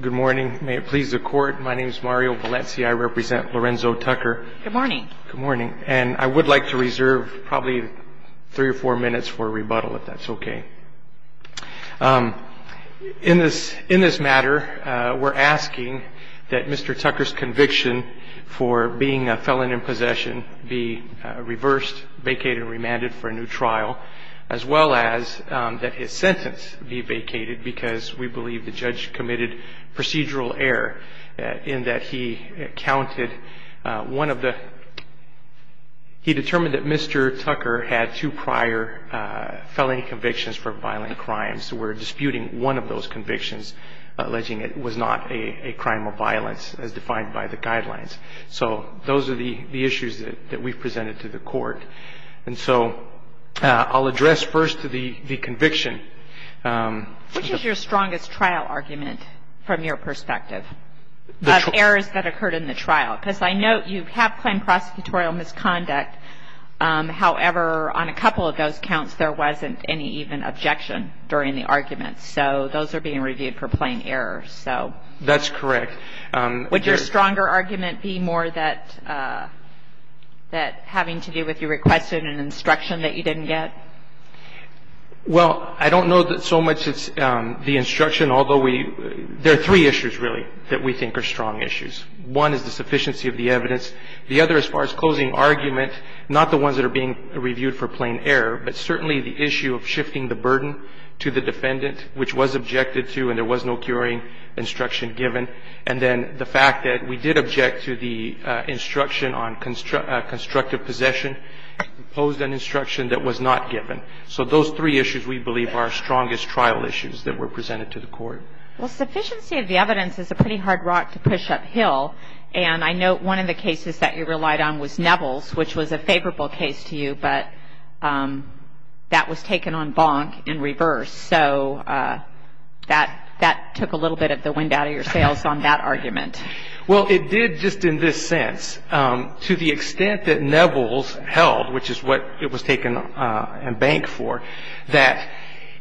Good morning. May it please the court. My name is Mario Valencia. I represent Lorenzo Tucker. Good morning. Good morning. And I would like to reserve probably three or four minutes for rebuttal, if that's okay. In this matter, we're asking that Mr. Tucker's conviction for being a felon in possession be reversed, vacated and remanded for a new trial, as well as that his sentence be vacated because we believe the judge committed procedural error in that he counted one of the he determined that Mr. Tucker had two prior felony convictions for violent crimes. We're disputing one of those convictions, alleging it was not a crime of violence as defined by the guidelines. So those are the issues that we've presented to the court. And so I'll address first the conviction. Which is your strongest trial argument from your perspective of errors that occurred in the trial? Because I note you have plain prosecutorial misconduct. However, on a couple of those counts, there wasn't any even objection during the argument. So those are being reviewed for plain errors. That's correct. Would your stronger argument be more that having to do with you requesting an instruction that you didn't get? Well, I don't know that so much it's the instruction, although we – there are three issues, really, that we think are strong issues. One is the sufficiency of the evidence. The other, as far as closing argument, not the ones that are being reviewed for plain error, but certainly the issue of shifting the burden to the defendant, which was objected to and there was no curing instruction given. And then the fact that we did object to the instruction on constructive possession, imposed an instruction that was not given. So those three issues, we believe, are our strongest trial issues that were presented to the court. Well, sufficiency of the evidence is a pretty hard rock to push uphill. And I note one of the cases that you relied on was Nevels, which was a favorable case to you, but that was taken en banc in reverse. So that took a little bit of the wind out of your sails on that argument. Well, it did just in this sense. To the extent that Nevels held, which is what it was taken en banc for, that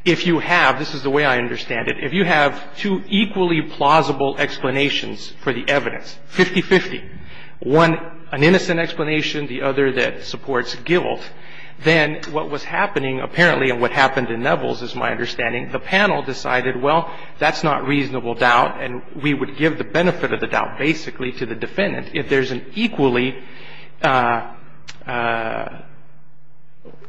if you have – this is the way I understand it. If you have two equally plausible explanations for the evidence, 50-50, one an innocent explanation, the other that supports guilt, then what was happening apparently, and what happened in Nevels is my understanding, the panel decided, well, that's not reasonable doubt and we would give the benefit of the doubt basically to the defendant. If there's an equally explanation,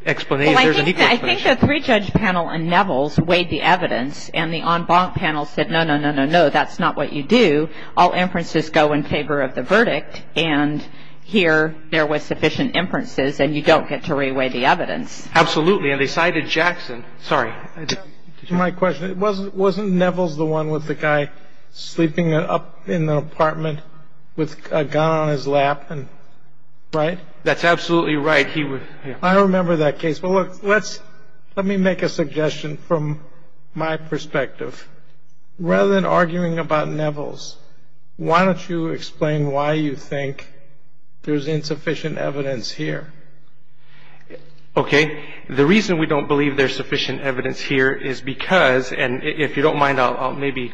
there's an equal explanation. Well, I think the three-judge panel in Nevels weighed the evidence and the en banc panel said, no, no, no, no, no, that's not what you do. All inferences go in favor of the verdict and here there was sufficient inferences and you don't get to re-weigh the evidence. Absolutely. And they cited Jackson. Sorry. To my question, wasn't Nevels the one with the guy sleeping up in the apartment with a gun on his lap and – right? That's absolutely right. He was – I don't remember that case. Well, look, let's – let me make a suggestion from my perspective. Rather than arguing about Nevels, why don't you explain why you think there's insufficient evidence here? Okay. The reason we don't believe there's sufficient evidence here is because, and if you don't mind, I'll maybe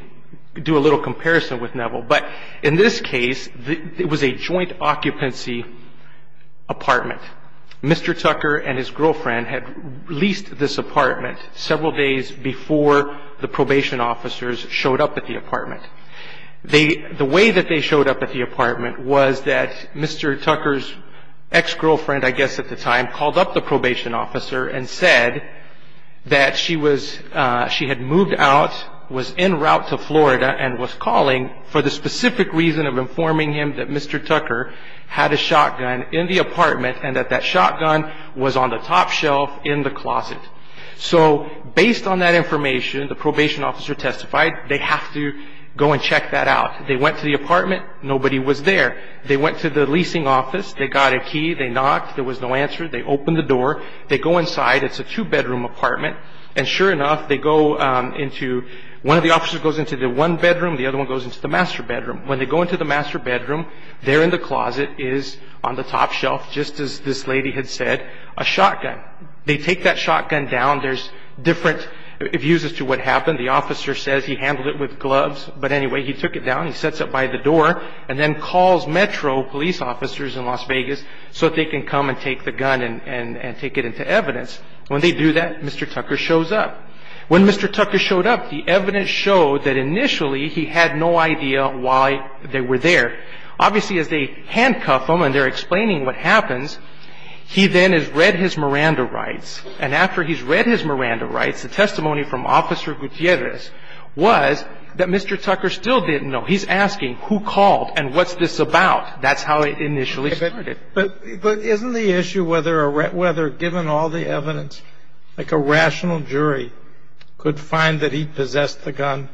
do a little comparison with Nevel, but in this case it was a joint occupancy apartment. Mr. Tucker and his girlfriend had leased this apartment several days before the probation officers showed up at the apartment. The way that they showed up at the apartment was that Mr. Tucker's ex-girlfriend, I guess at the time, called up the probation officer and said that she was – she had moved out, was en route to Florida, and was calling for the specific reason of informing him that Mr. Tucker had a shotgun in the apartment and that that shotgun was on the top shelf in the closet. So based on that information, the probation officer testified they have to go and check that out. They went to the apartment. Nobody was there. They went to the leasing office. They got a key. They knocked. There was no answer. They opened the door. They go inside. It's a two-bedroom apartment. And sure enough, they go into – one of the officers goes into the one bedroom. The other one goes into the master bedroom. When they go into the master bedroom, there in the closet is on the top shelf, just as this lady had said, a shotgun. They take that shotgun down. There's different views as to what happened. The officer says he handled it with gloves. But anyway, he took it down. He sets it by the door and then calls Metro police officers in Las Vegas so that they can come and take the gun and take it into evidence. When they do that, Mr. Tucker shows up. When Mr. Tucker showed up, the evidence showed that initially he had no idea why they were there. Obviously, as they handcuff him and they're explaining what happens, he then has read his Miranda rights. And after he's read his Miranda rights, the testimony from Officer Gutierrez was that Mr. Tucker still didn't know. He's asking who called and what's this about. That's how it initially started. But isn't the issue whether given all the evidence, like a rational jury could find that he possessed the gun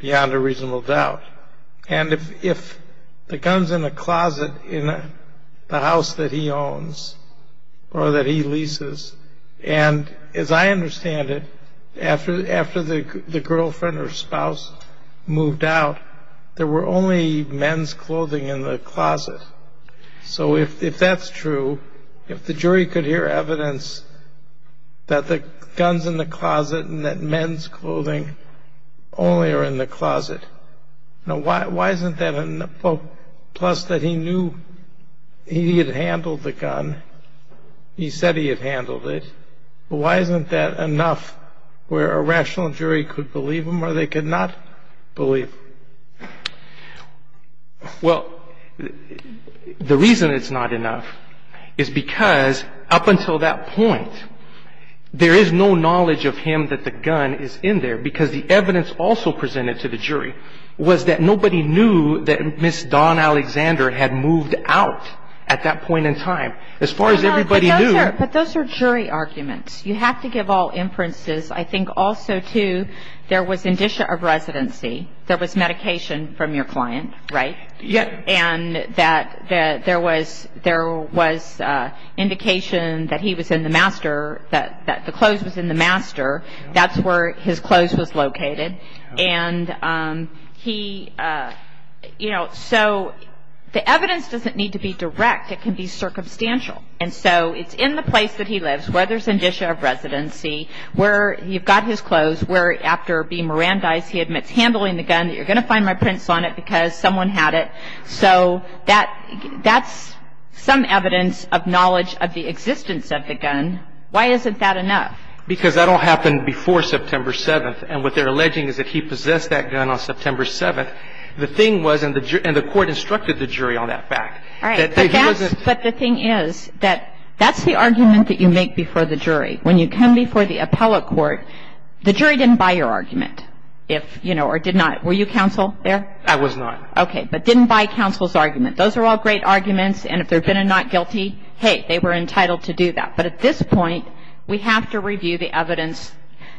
beyond a reasonable doubt? And if the gun's in a closet in the house that he owns or that he leases, and as I understand it, after the girlfriend or spouse moved out, there were only men's clothing in the closet. So if that's true, if the jury could hear evidence that the gun's in the closet and that men's clothing only are in the closet, now why isn't that enough? Plus that he knew he had handled the gun. He said he had handled it. Why isn't that enough where a rational jury could believe him or they could not believe? Well, the reason it's not enough is because up until that point, there is no knowledge of him that the gun is in there because the evidence also presented to the jury was that nobody knew that Ms. Dawn Alexander had moved out at that point in time. As far as everybody knew. But those are jury arguments. You have to give all inferences. I think also, too, there was indicia of residency. There was medication from your client, right? Yes. And that there was indication that he was in the master, that the clothes was in the master. That's where his clothes was located. And he, you know, so the evidence doesn't need to be direct. It can be circumstantial. And so it's in the place that he lives where there's indicia of residency, where you've got his clothes, where after being Mirandized, he admits handling the gun, you're going to find my prints on it because someone had it. So that's some evidence of knowledge of the existence of the gun. Why isn't that enough? Because that all happened before September 7th. And what they're alleging is that he possessed that gun on September 7th. The thing was, and the court instructed the jury on that fact. All right. But the thing is that that's the argument that you make before the jury. When you come before the appellate court, the jury didn't buy your argument. If, you know, or did not. Were you counsel there? I was not. Okay. But didn't buy counsel's argument. Those are all great arguments. And if there had been a not guilty, hey, they were entitled to do that. But at this point, we have to review the evidence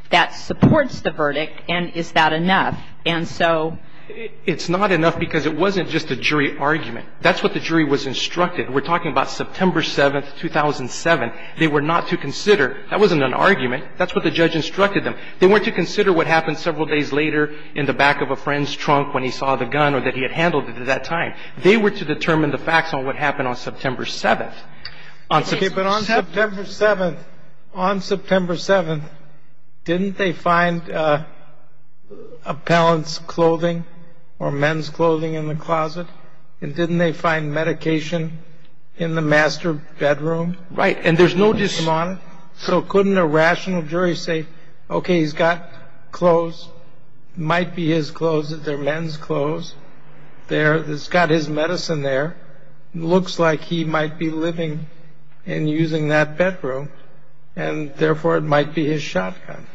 that supports the verdict, and is that enough? And so ---- It's not enough because it wasn't just a jury argument. That's what the jury was instructed. We're talking about September 7th, 2007. They were not to consider. That wasn't an argument. That's what the judge instructed them. They weren't to consider what happened several days later in the back of a friend's trunk when he saw the gun or that he had handled it at that time. They were to determine the facts on what happened on September 7th. Okay. But on September 7th, on September 7th, didn't they find appellant's clothing or men's clothing in the closet? And didn't they find medication in the master bedroom? Right. And there's no ---- So couldn't a rational jury say, okay, he's got clothes, might be his clothes. They're men's clothes. It's got his medicine there. Looks like he might be living and using that bedroom, and therefore it might be his shotgun.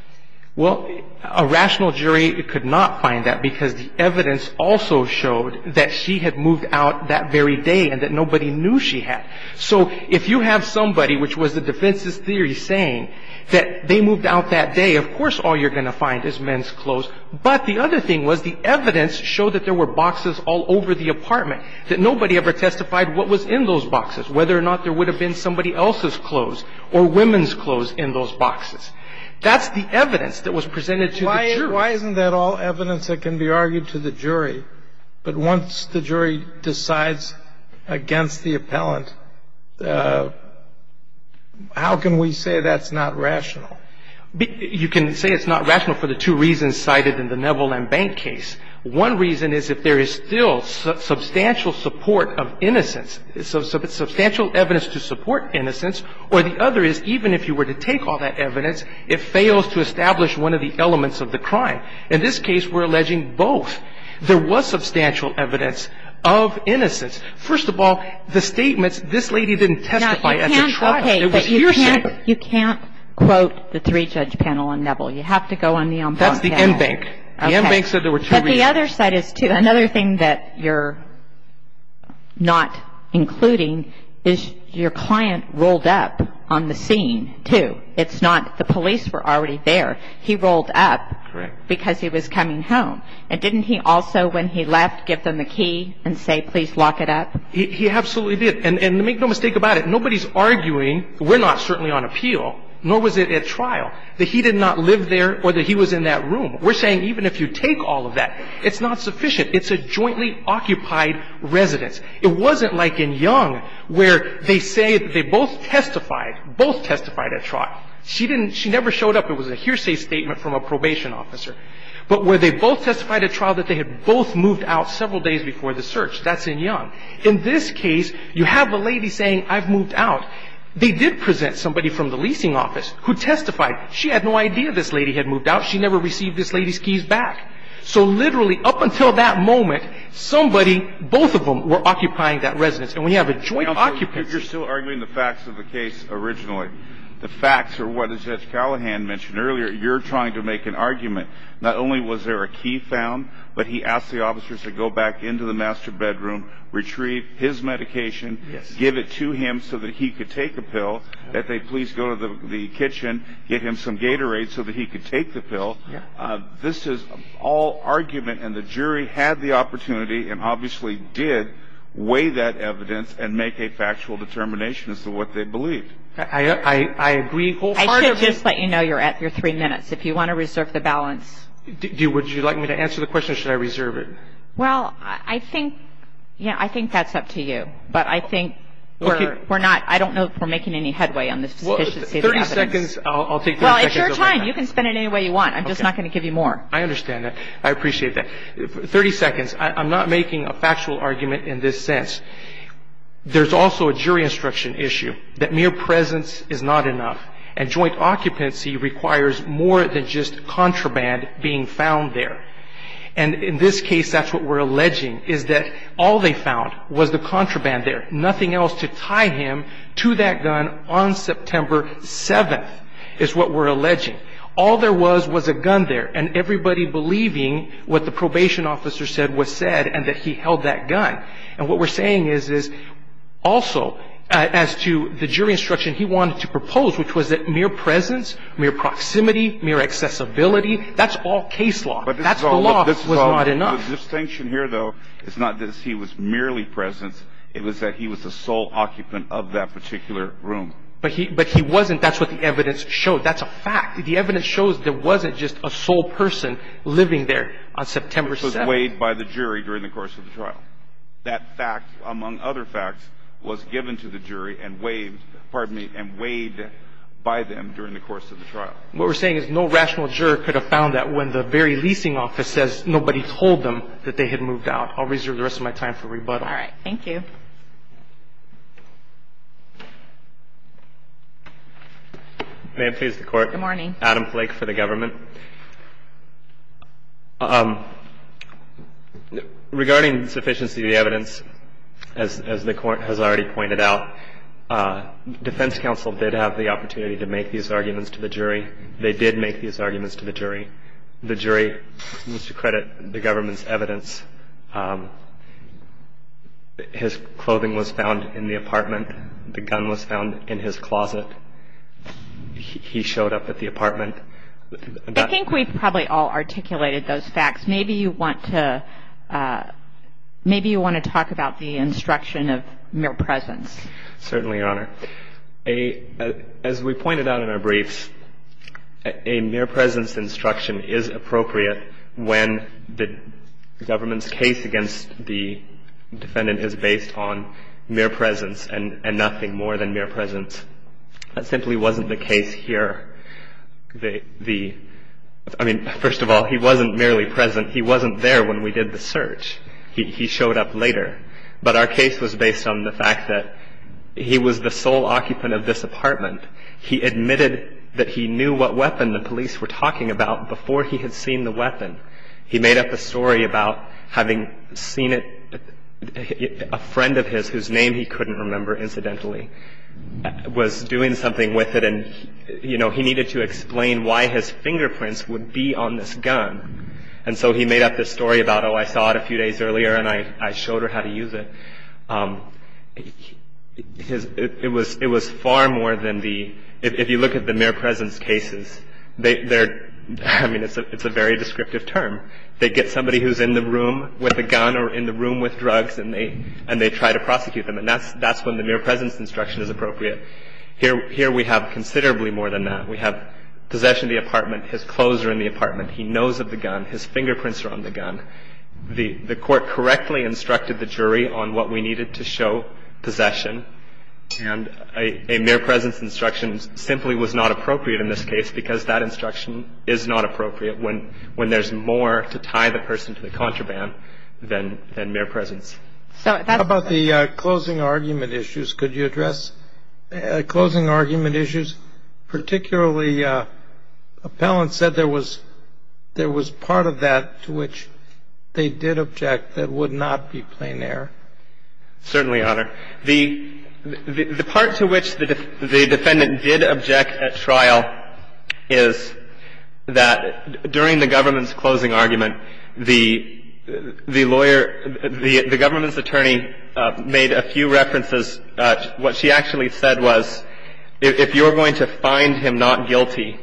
Well, a rational jury could not find that because the evidence also showed that she had moved out that very day and that nobody knew she had. So if you have somebody, which was the defense's theory, saying that they moved out that day, of course all you're going to find is men's clothes. But the other thing was the evidence showed that there were boxes all over the apartment, that nobody ever testified what was in those boxes, whether or not there would have been somebody else's clothes or women's clothes in those boxes. That's the evidence that was presented to the jury. Why isn't that all evidence that can be argued to the jury? But once the jury decides against the appellant, how can we say that's not rational? You can say it's not rational for the two reasons cited in the Neville and Bank case. One reason is if there is still substantial support of innocence, substantial evidence to support innocence, or the other is even if you were to take all that evidence, it fails to establish one of the elements of the crime. In this case, we're alleging both. There was substantial evidence of innocence. First of all, the statements, this lady didn't testify at the trial. It was hearsay. Okay. But you can't quote the three-judge panel on Neville. You have to go on the Embank case. That's the Embank. The Embank said there were two reasons. But the other side is, too, another thing that you're not including is your client rolled up on the scene, too. It's not the police were already there. He rolled up because he was coming home. And didn't he also, when he left, give them the key and say, please lock it up? He absolutely did. And make no mistake about it, nobody's arguing, we're not certainly on appeal, nor was it at trial, that he did not live there or that he was in that room. We're saying even if you take all of that, it's not sufficient. It's a jointly occupied residence. It wasn't like in Young where they say they both testified, both testified at trial. She didn't – she never showed up. It was a hearsay statement from a probation officer. But where they both testified at trial that they had both moved out several days before the search, that's in Young. In this case, you have a lady saying, I've moved out. They did present somebody from the leasing office who testified. She had no idea this lady had moved out. She never received this lady's keys back. So literally up until that moment, somebody, both of them, were occupying that residence. And we have a joint occupancy. If you're still arguing the facts of the case originally, the facts are what Judge Callahan mentioned earlier. You're trying to make an argument. Not only was there a key found, but he asked the officers to go back into the master bedroom, retrieve his medication, give it to him so that he could take a pill, that they please go to the kitchen, get him some Gatorade so that he could take the pill. This is all argument. And the jury had the opportunity and obviously did weigh that evidence and make a factual determination as to what they believed. I agree wholeheartedly. I should just let you know you're at your three minutes. If you want to reserve the balance. Would you like me to answer the question or should I reserve it? Well, I think – yeah, I think that's up to you. But I think we're not – I don't know if we're making any headway on the sufficiency of the evidence. 30 seconds. I'll take that. Well, it's your time. You can spend it any way you want. I'm just not going to give you more. I understand that. I appreciate that. 30 seconds. I'm not making a factual argument in this sense. There's also a jury instruction issue that mere presence is not enough. And joint occupancy requires more than just contraband being found there. And in this case, that's what we're alleging, is that all they found was the contraband there, nothing else to tie him to that gun on September 7th is what we're alleging. All there was was a gun there. And everybody believing what the probation officer said was said and that he held that gun. And what we're saying is also as to the jury instruction he wanted to propose, which was that mere presence, mere proximity, mere accessibility, that's all case law. That's the law that was not enough. The distinction here, though, is not that he was merely present. It was that he was the sole occupant of that particular room. But he wasn't. That's what the evidence showed. That's a fact. The evidence shows there wasn't just a sole person living there on September 7th. Which was weighed by the jury during the course of the trial. That fact, among other facts, was given to the jury and weighed by them during the course of the trial. What we're saying is no rational juror could have found that when the very leasing office says nobody told them that they had moved out. I'll reserve the rest of my time for rebuttal. All right. Thank you. May it please the Court. Good morning. Adam Flake for the government. Regarding sufficiency of the evidence, as the Court has already pointed out, defense counsel did have the opportunity to make these arguments to the jury. They did make these arguments to the jury. The jury, to credit the government's evidence, his clothing was found in the apartment. The gun was found in his closet. He showed up at the apartment. I think we've probably all articulated those facts. Maybe you want to talk about the instruction of mere presence. Certainly, Your Honor. As we pointed out in our briefs, a mere presence instruction is appropriate when the government's case against the defendant is based on mere presence and nothing more than mere presence. That simply wasn't the case here. I mean, first of all, he wasn't merely present. He wasn't there when we did the search. He showed up later. But our case was based on the fact that he was the sole occupant of this apartment. He admitted that he knew what weapon the police were talking about before he had seen the weapon. He made up a story about having seen it, a friend of his whose name he couldn't remember, incidentally, was doing something with it. And, you know, he needed to explain why his fingerprints would be on this gun. And so he made up this story about, oh, I saw it a few days earlier and I showed her how to use it. It was far more than the – if you look at the mere presence cases, they're – I mean, it's a very descriptive term. They get somebody who's in the room with a gun or in the room with drugs and they try to prosecute them. And that's when the mere presence instruction is appropriate. Here we have considerably more than that. We have possession of the apartment. His clothes are in the apartment. He knows of the gun. His fingerprints are on the gun. The Court correctly instructed the jury on what we needed to show possession, and a mere presence instruction simply was not appropriate in this case because that instruction is not appropriate when there's more to tie the person to the contraband than mere presence. So that's the – How about the closing argument issues? Could you address closing argument issues? Particularly, appellant said there was – there was part of that to which they did object that would not be plain error. Certainly, Your Honor. The part to which the defendant did object at trial is that during the government's closing argument, the lawyer – the government's attorney made a few references. What she actually said was, if you're going to find him not guilty,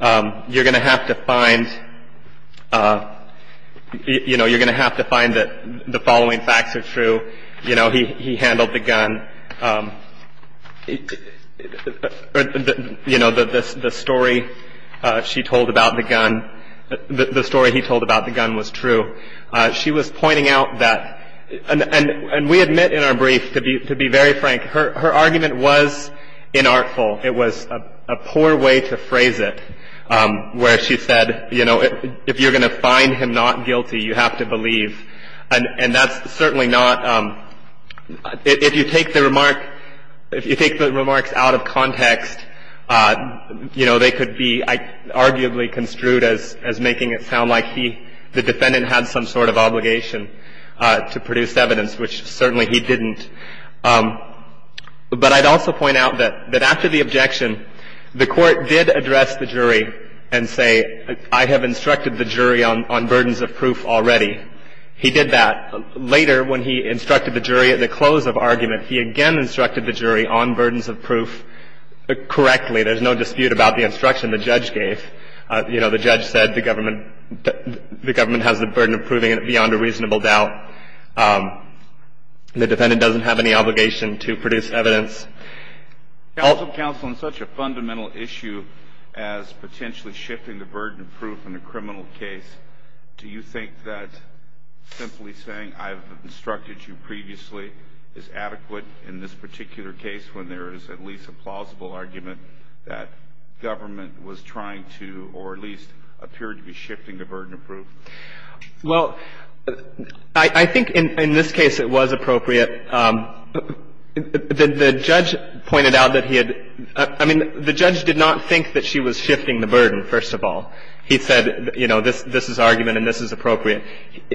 you're going to have to find – you know, you're going to have to find that the following facts are true. You know, he handled the gun. You know, the story she told about the gun – the story he told about the gun was true. She was pointing out that – and we admit in our brief, to be very frank, her argument was inartful. It was a poor way to phrase it, where she said, you know, if you're going to find him not guilty, you have to believe. And that's certainly not – if you take the remark – if you take the remarks out of context, you know, they could be arguably construed as making it sound like he, the defendant, had some sort of obligation to produce evidence, which certainly he didn't. But I'd also point out that after the objection, the Court did address the jury and say, I have instructed the jury on burdens of proof already. He did that. Later, when he instructed the jury at the close of argument, he again instructed the jury on burdens of proof correctly. There's no dispute about the instruction the judge gave. You know, the judge said the government – the government has the burden of proving it beyond a reasonable doubt. The defendant doesn't have any obligation to produce evidence. Alito, counsel, on such a fundamental issue as potentially shifting the burden of proof in a criminal case, do you think that simply saying I've instructed you previously is adequate in this particular case when there is at least a plausible argument that government was trying to, or at least appeared to be shifting the burden of proof? Well, I think in this case it was appropriate. The judge pointed out that he had – I mean, the judge did not think that she was shifting the burden, first of all. He said, you know, this is argument and this is appropriate.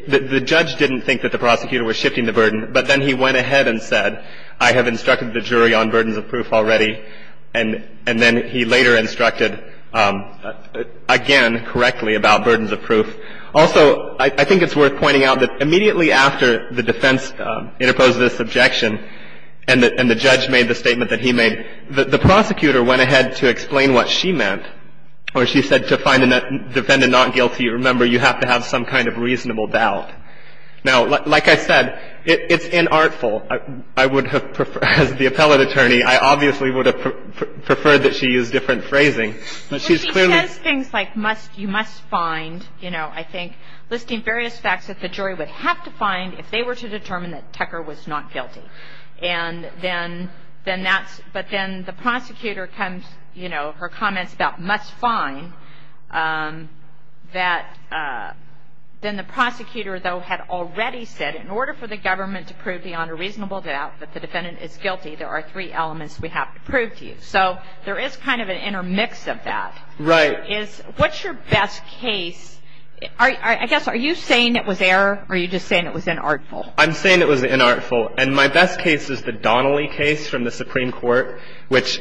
The judge didn't think that the prosecutor was shifting the burden, but then he went ahead and said, I have instructed the jury on burdens of proof already. And then he later instructed again correctly about burdens of proof. Also, I think it's worth pointing out that immediately after the defense interposed this objection and the judge made the statement that he made, the prosecutor went ahead to explain what she meant, where she said to find the defendant not guilty, remember, you have to have some kind of reasonable doubt. Now, like I said, it's inartful. I would have preferred – as the appellate attorney, I obviously would have preferred that she use different phrasing. But she's clearly – And, you know, I think listing various facts that the jury would have to find if they were to determine that Tecker was not guilty. And then that's – but then the prosecutor comes, you know, her comments about must find that – then the prosecutor, though, had already said in order for the government to prove beyond a reasonable doubt that the defendant is guilty, there are three elements we have to prove to you. So there is kind of an intermix of that. Right. And the other is, what's your best case? I guess, are you saying it was error or are you just saying it was inartful? I'm saying it was inartful. And my best case is the Donnelly case from the Supreme Court, which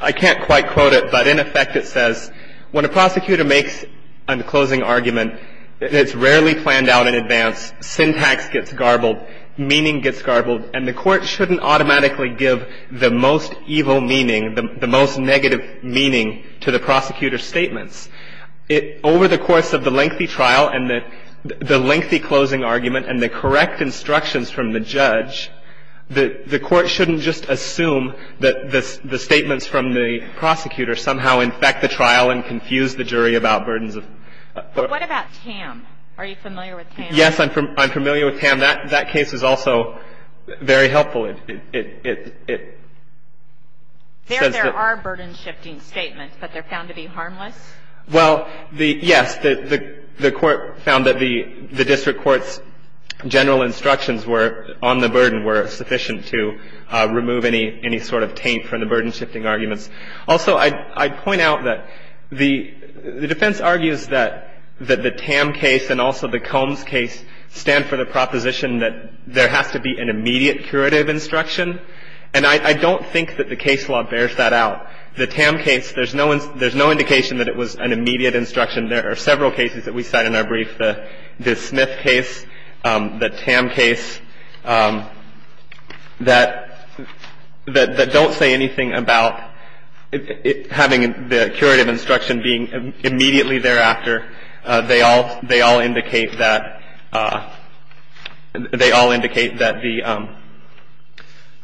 I can't quite quote it, but in effect it says when a prosecutor makes a closing argument, it's rarely planned out in advance, syntax gets garbled, meaning gets garbled, and the court shouldn't automatically give the most evil meaning, the most negative meaning to the prosecutor's statements. Over the course of the lengthy trial and the lengthy closing argument and the correct instructions from the judge, the court shouldn't just assume that the statements from the prosecutor somehow infect the trial and confuse the jury about burdens of – But what about Tam? Are you familiar with Tam? Yes, I'm familiar with Tam. That case is also very helpful. It says that – There are burden-shifting statements, but they're found to be harmless? Well, yes. The court found that the district court's general instructions on the burden were sufficient to remove any sort of taint from the burden-shifting arguments. Also, I'd point out that the defense argues that the Tam case and also the Combs case stand for the proposition that there has to be an immediate curative instruction. And I don't think that the case law bears that out. The Tam case, there's no indication that it was an immediate instruction. There are several cases that we cite in our brief, the Smith case, the Tam case, that don't say anything about having the curative instruction being immediately thereafter. They all indicate that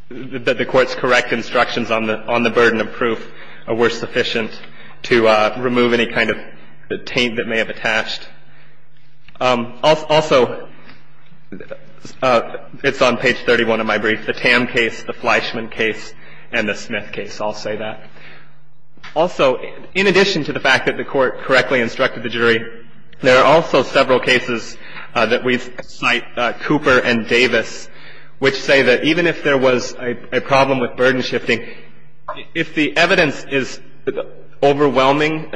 the court's correct instructions on the burden of proof were sufficient to remove any kind of taint that may have attached. Also, it's on page 31 of my brief, the Tam case, the Fleischman case, and the Smith case. I'll say that. Also, in addition to the fact that the court correctly instructed the jury, there are also several cases that we cite, Cooper and Davis, which say that even if there was a problem with burden-shifting, if the evidence is overwhelming,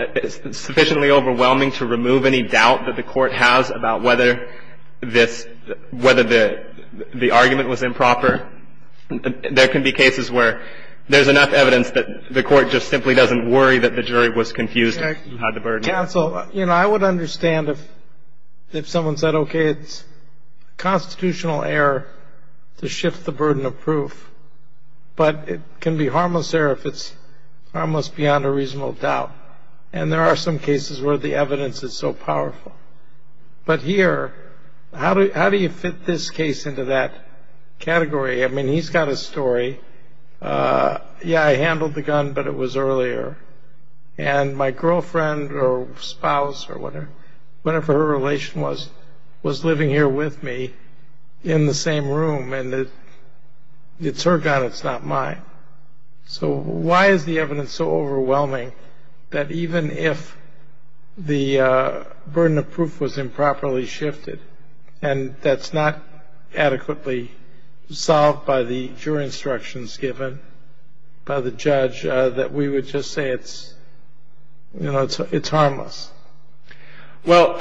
sufficiently overwhelming to remove any doubt that the court has about whether this – whether the argument was improper, there can be cases where there's enough evidence that the court just simply doesn't worry that the jury was confused about the burden. Counsel, you know, I would understand if someone said, okay, it's constitutional error to shift the burden of proof, but it can be harmless error if it's harmless beyond a reasonable doubt. And there are some cases where the evidence is so powerful. But here, how do you fit this case into that category? I mean, he's got a story. Yeah, I handled the gun, but it was earlier. And my girlfriend or spouse or whatever her relation was, was living here with me in the same room, and it's her gun, it's not mine. So why is the evidence so overwhelming that even if the burden of proof was improperly shifted and that's not adequately solved by the jury instructions given by the judge, that we would just say it's, you know, it's harmless? Well,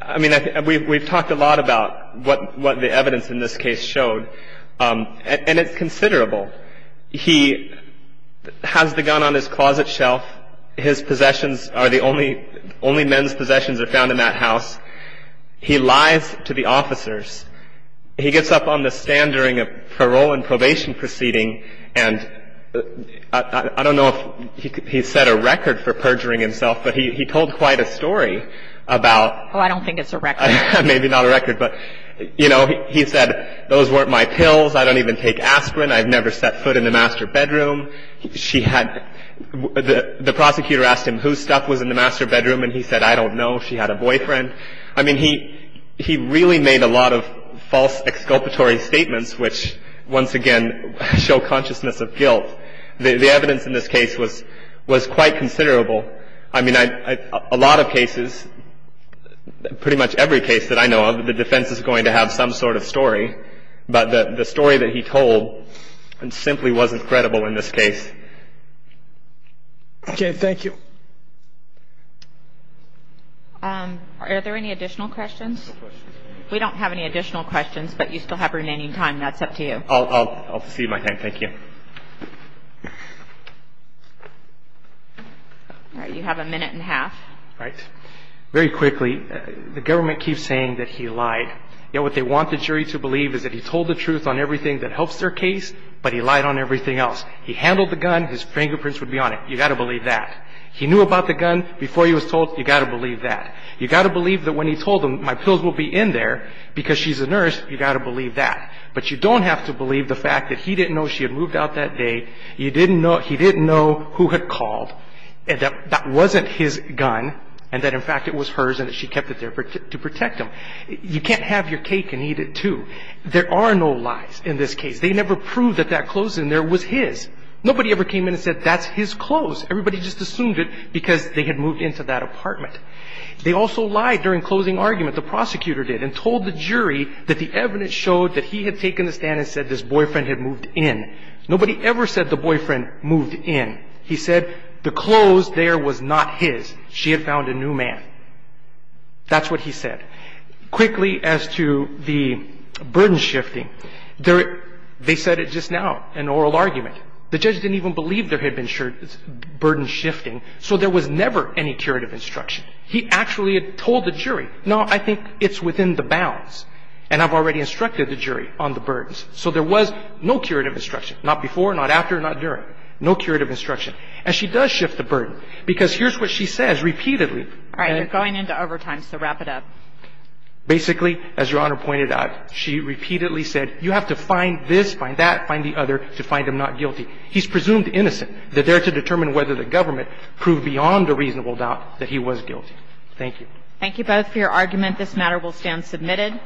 I mean, we've talked a lot about what the evidence in this case showed. And it's considerable. He has the gun on his closet shelf. His possessions are the only men's possessions are found in that house. He lies to the officers. He gets up on the stand during a parole and probation proceeding, and I don't know if he set a record for perjuring himself, but he told quite a story about. Oh, I don't think it's a record. Maybe not a record. But, you know, he said, those weren't my pills. I don't even take aspirin. I've never set foot in the master bedroom. She had, the prosecutor asked him whose stuff was in the master bedroom, and he said, I don't know. She had a boyfriend. I mean, he really made a lot of false exculpatory statements which, once again, show consciousness of guilt. The evidence in this case was quite considerable. I mean, a lot of cases, pretty much every case that I know of, the defense is going to have some sort of story, but the story that he told simply wasn't credible in this case. Okay. Thank you. Are there any additional questions? We don't have any additional questions, but you still have remaining time. That's up to you. I'll cede my time. Thank you. All right. You have a minute and a half. All right. Very quickly, the government keeps saying that he lied. You know, what they want the jury to believe is that he told the truth on everything that helps their case, but he lied on everything else. He handled the gun. His fingerprints would be on it. You've got to believe that. He knew about the gun before he was told. You've got to believe that. You've got to believe that when he told them, my pills will be in there because she's a nurse. You've got to believe that. But you don't have to believe the fact that he didn't know she had moved out that day, he didn't know who had called, and that that wasn't his gun, and that, in fact, it was hers and that she kept it there to protect him. You can't have your cake and eat it, too. There are no lies in this case. They never proved that that clothes in there was his. Nobody ever came in and said that's his clothes. Everybody just assumed it because they had moved into that apartment. They also lied during closing argument, the prosecutor did, and told the jury that the evidence showed that he had taken the stand and said this boyfriend had moved in. Nobody ever said the boyfriend moved in. He said the clothes there was not his. She had found a new man. That's what he said. Quickly, as to the burden shifting, they said it just now in oral argument. The judge didn't even believe there had been burden shifting, so there was never any curative instruction. He actually had told the jury, no, I think it's within the bounds, and I've already instructed the jury on the burdens. So there was no curative instruction, not before, not after, not during, no curative instruction. And she does shift the burden because here's what she says repeatedly. All right. You're going into overtime, so wrap it up. Basically, as Your Honor pointed out, she repeatedly said you have to find this, find that, find the other to find him not guilty. He's presumed innocent. They're there to determine whether the government proved beyond a reasonable doubt that he was guilty. Thank you. Thank you both for your argument. This matter will stand submitted.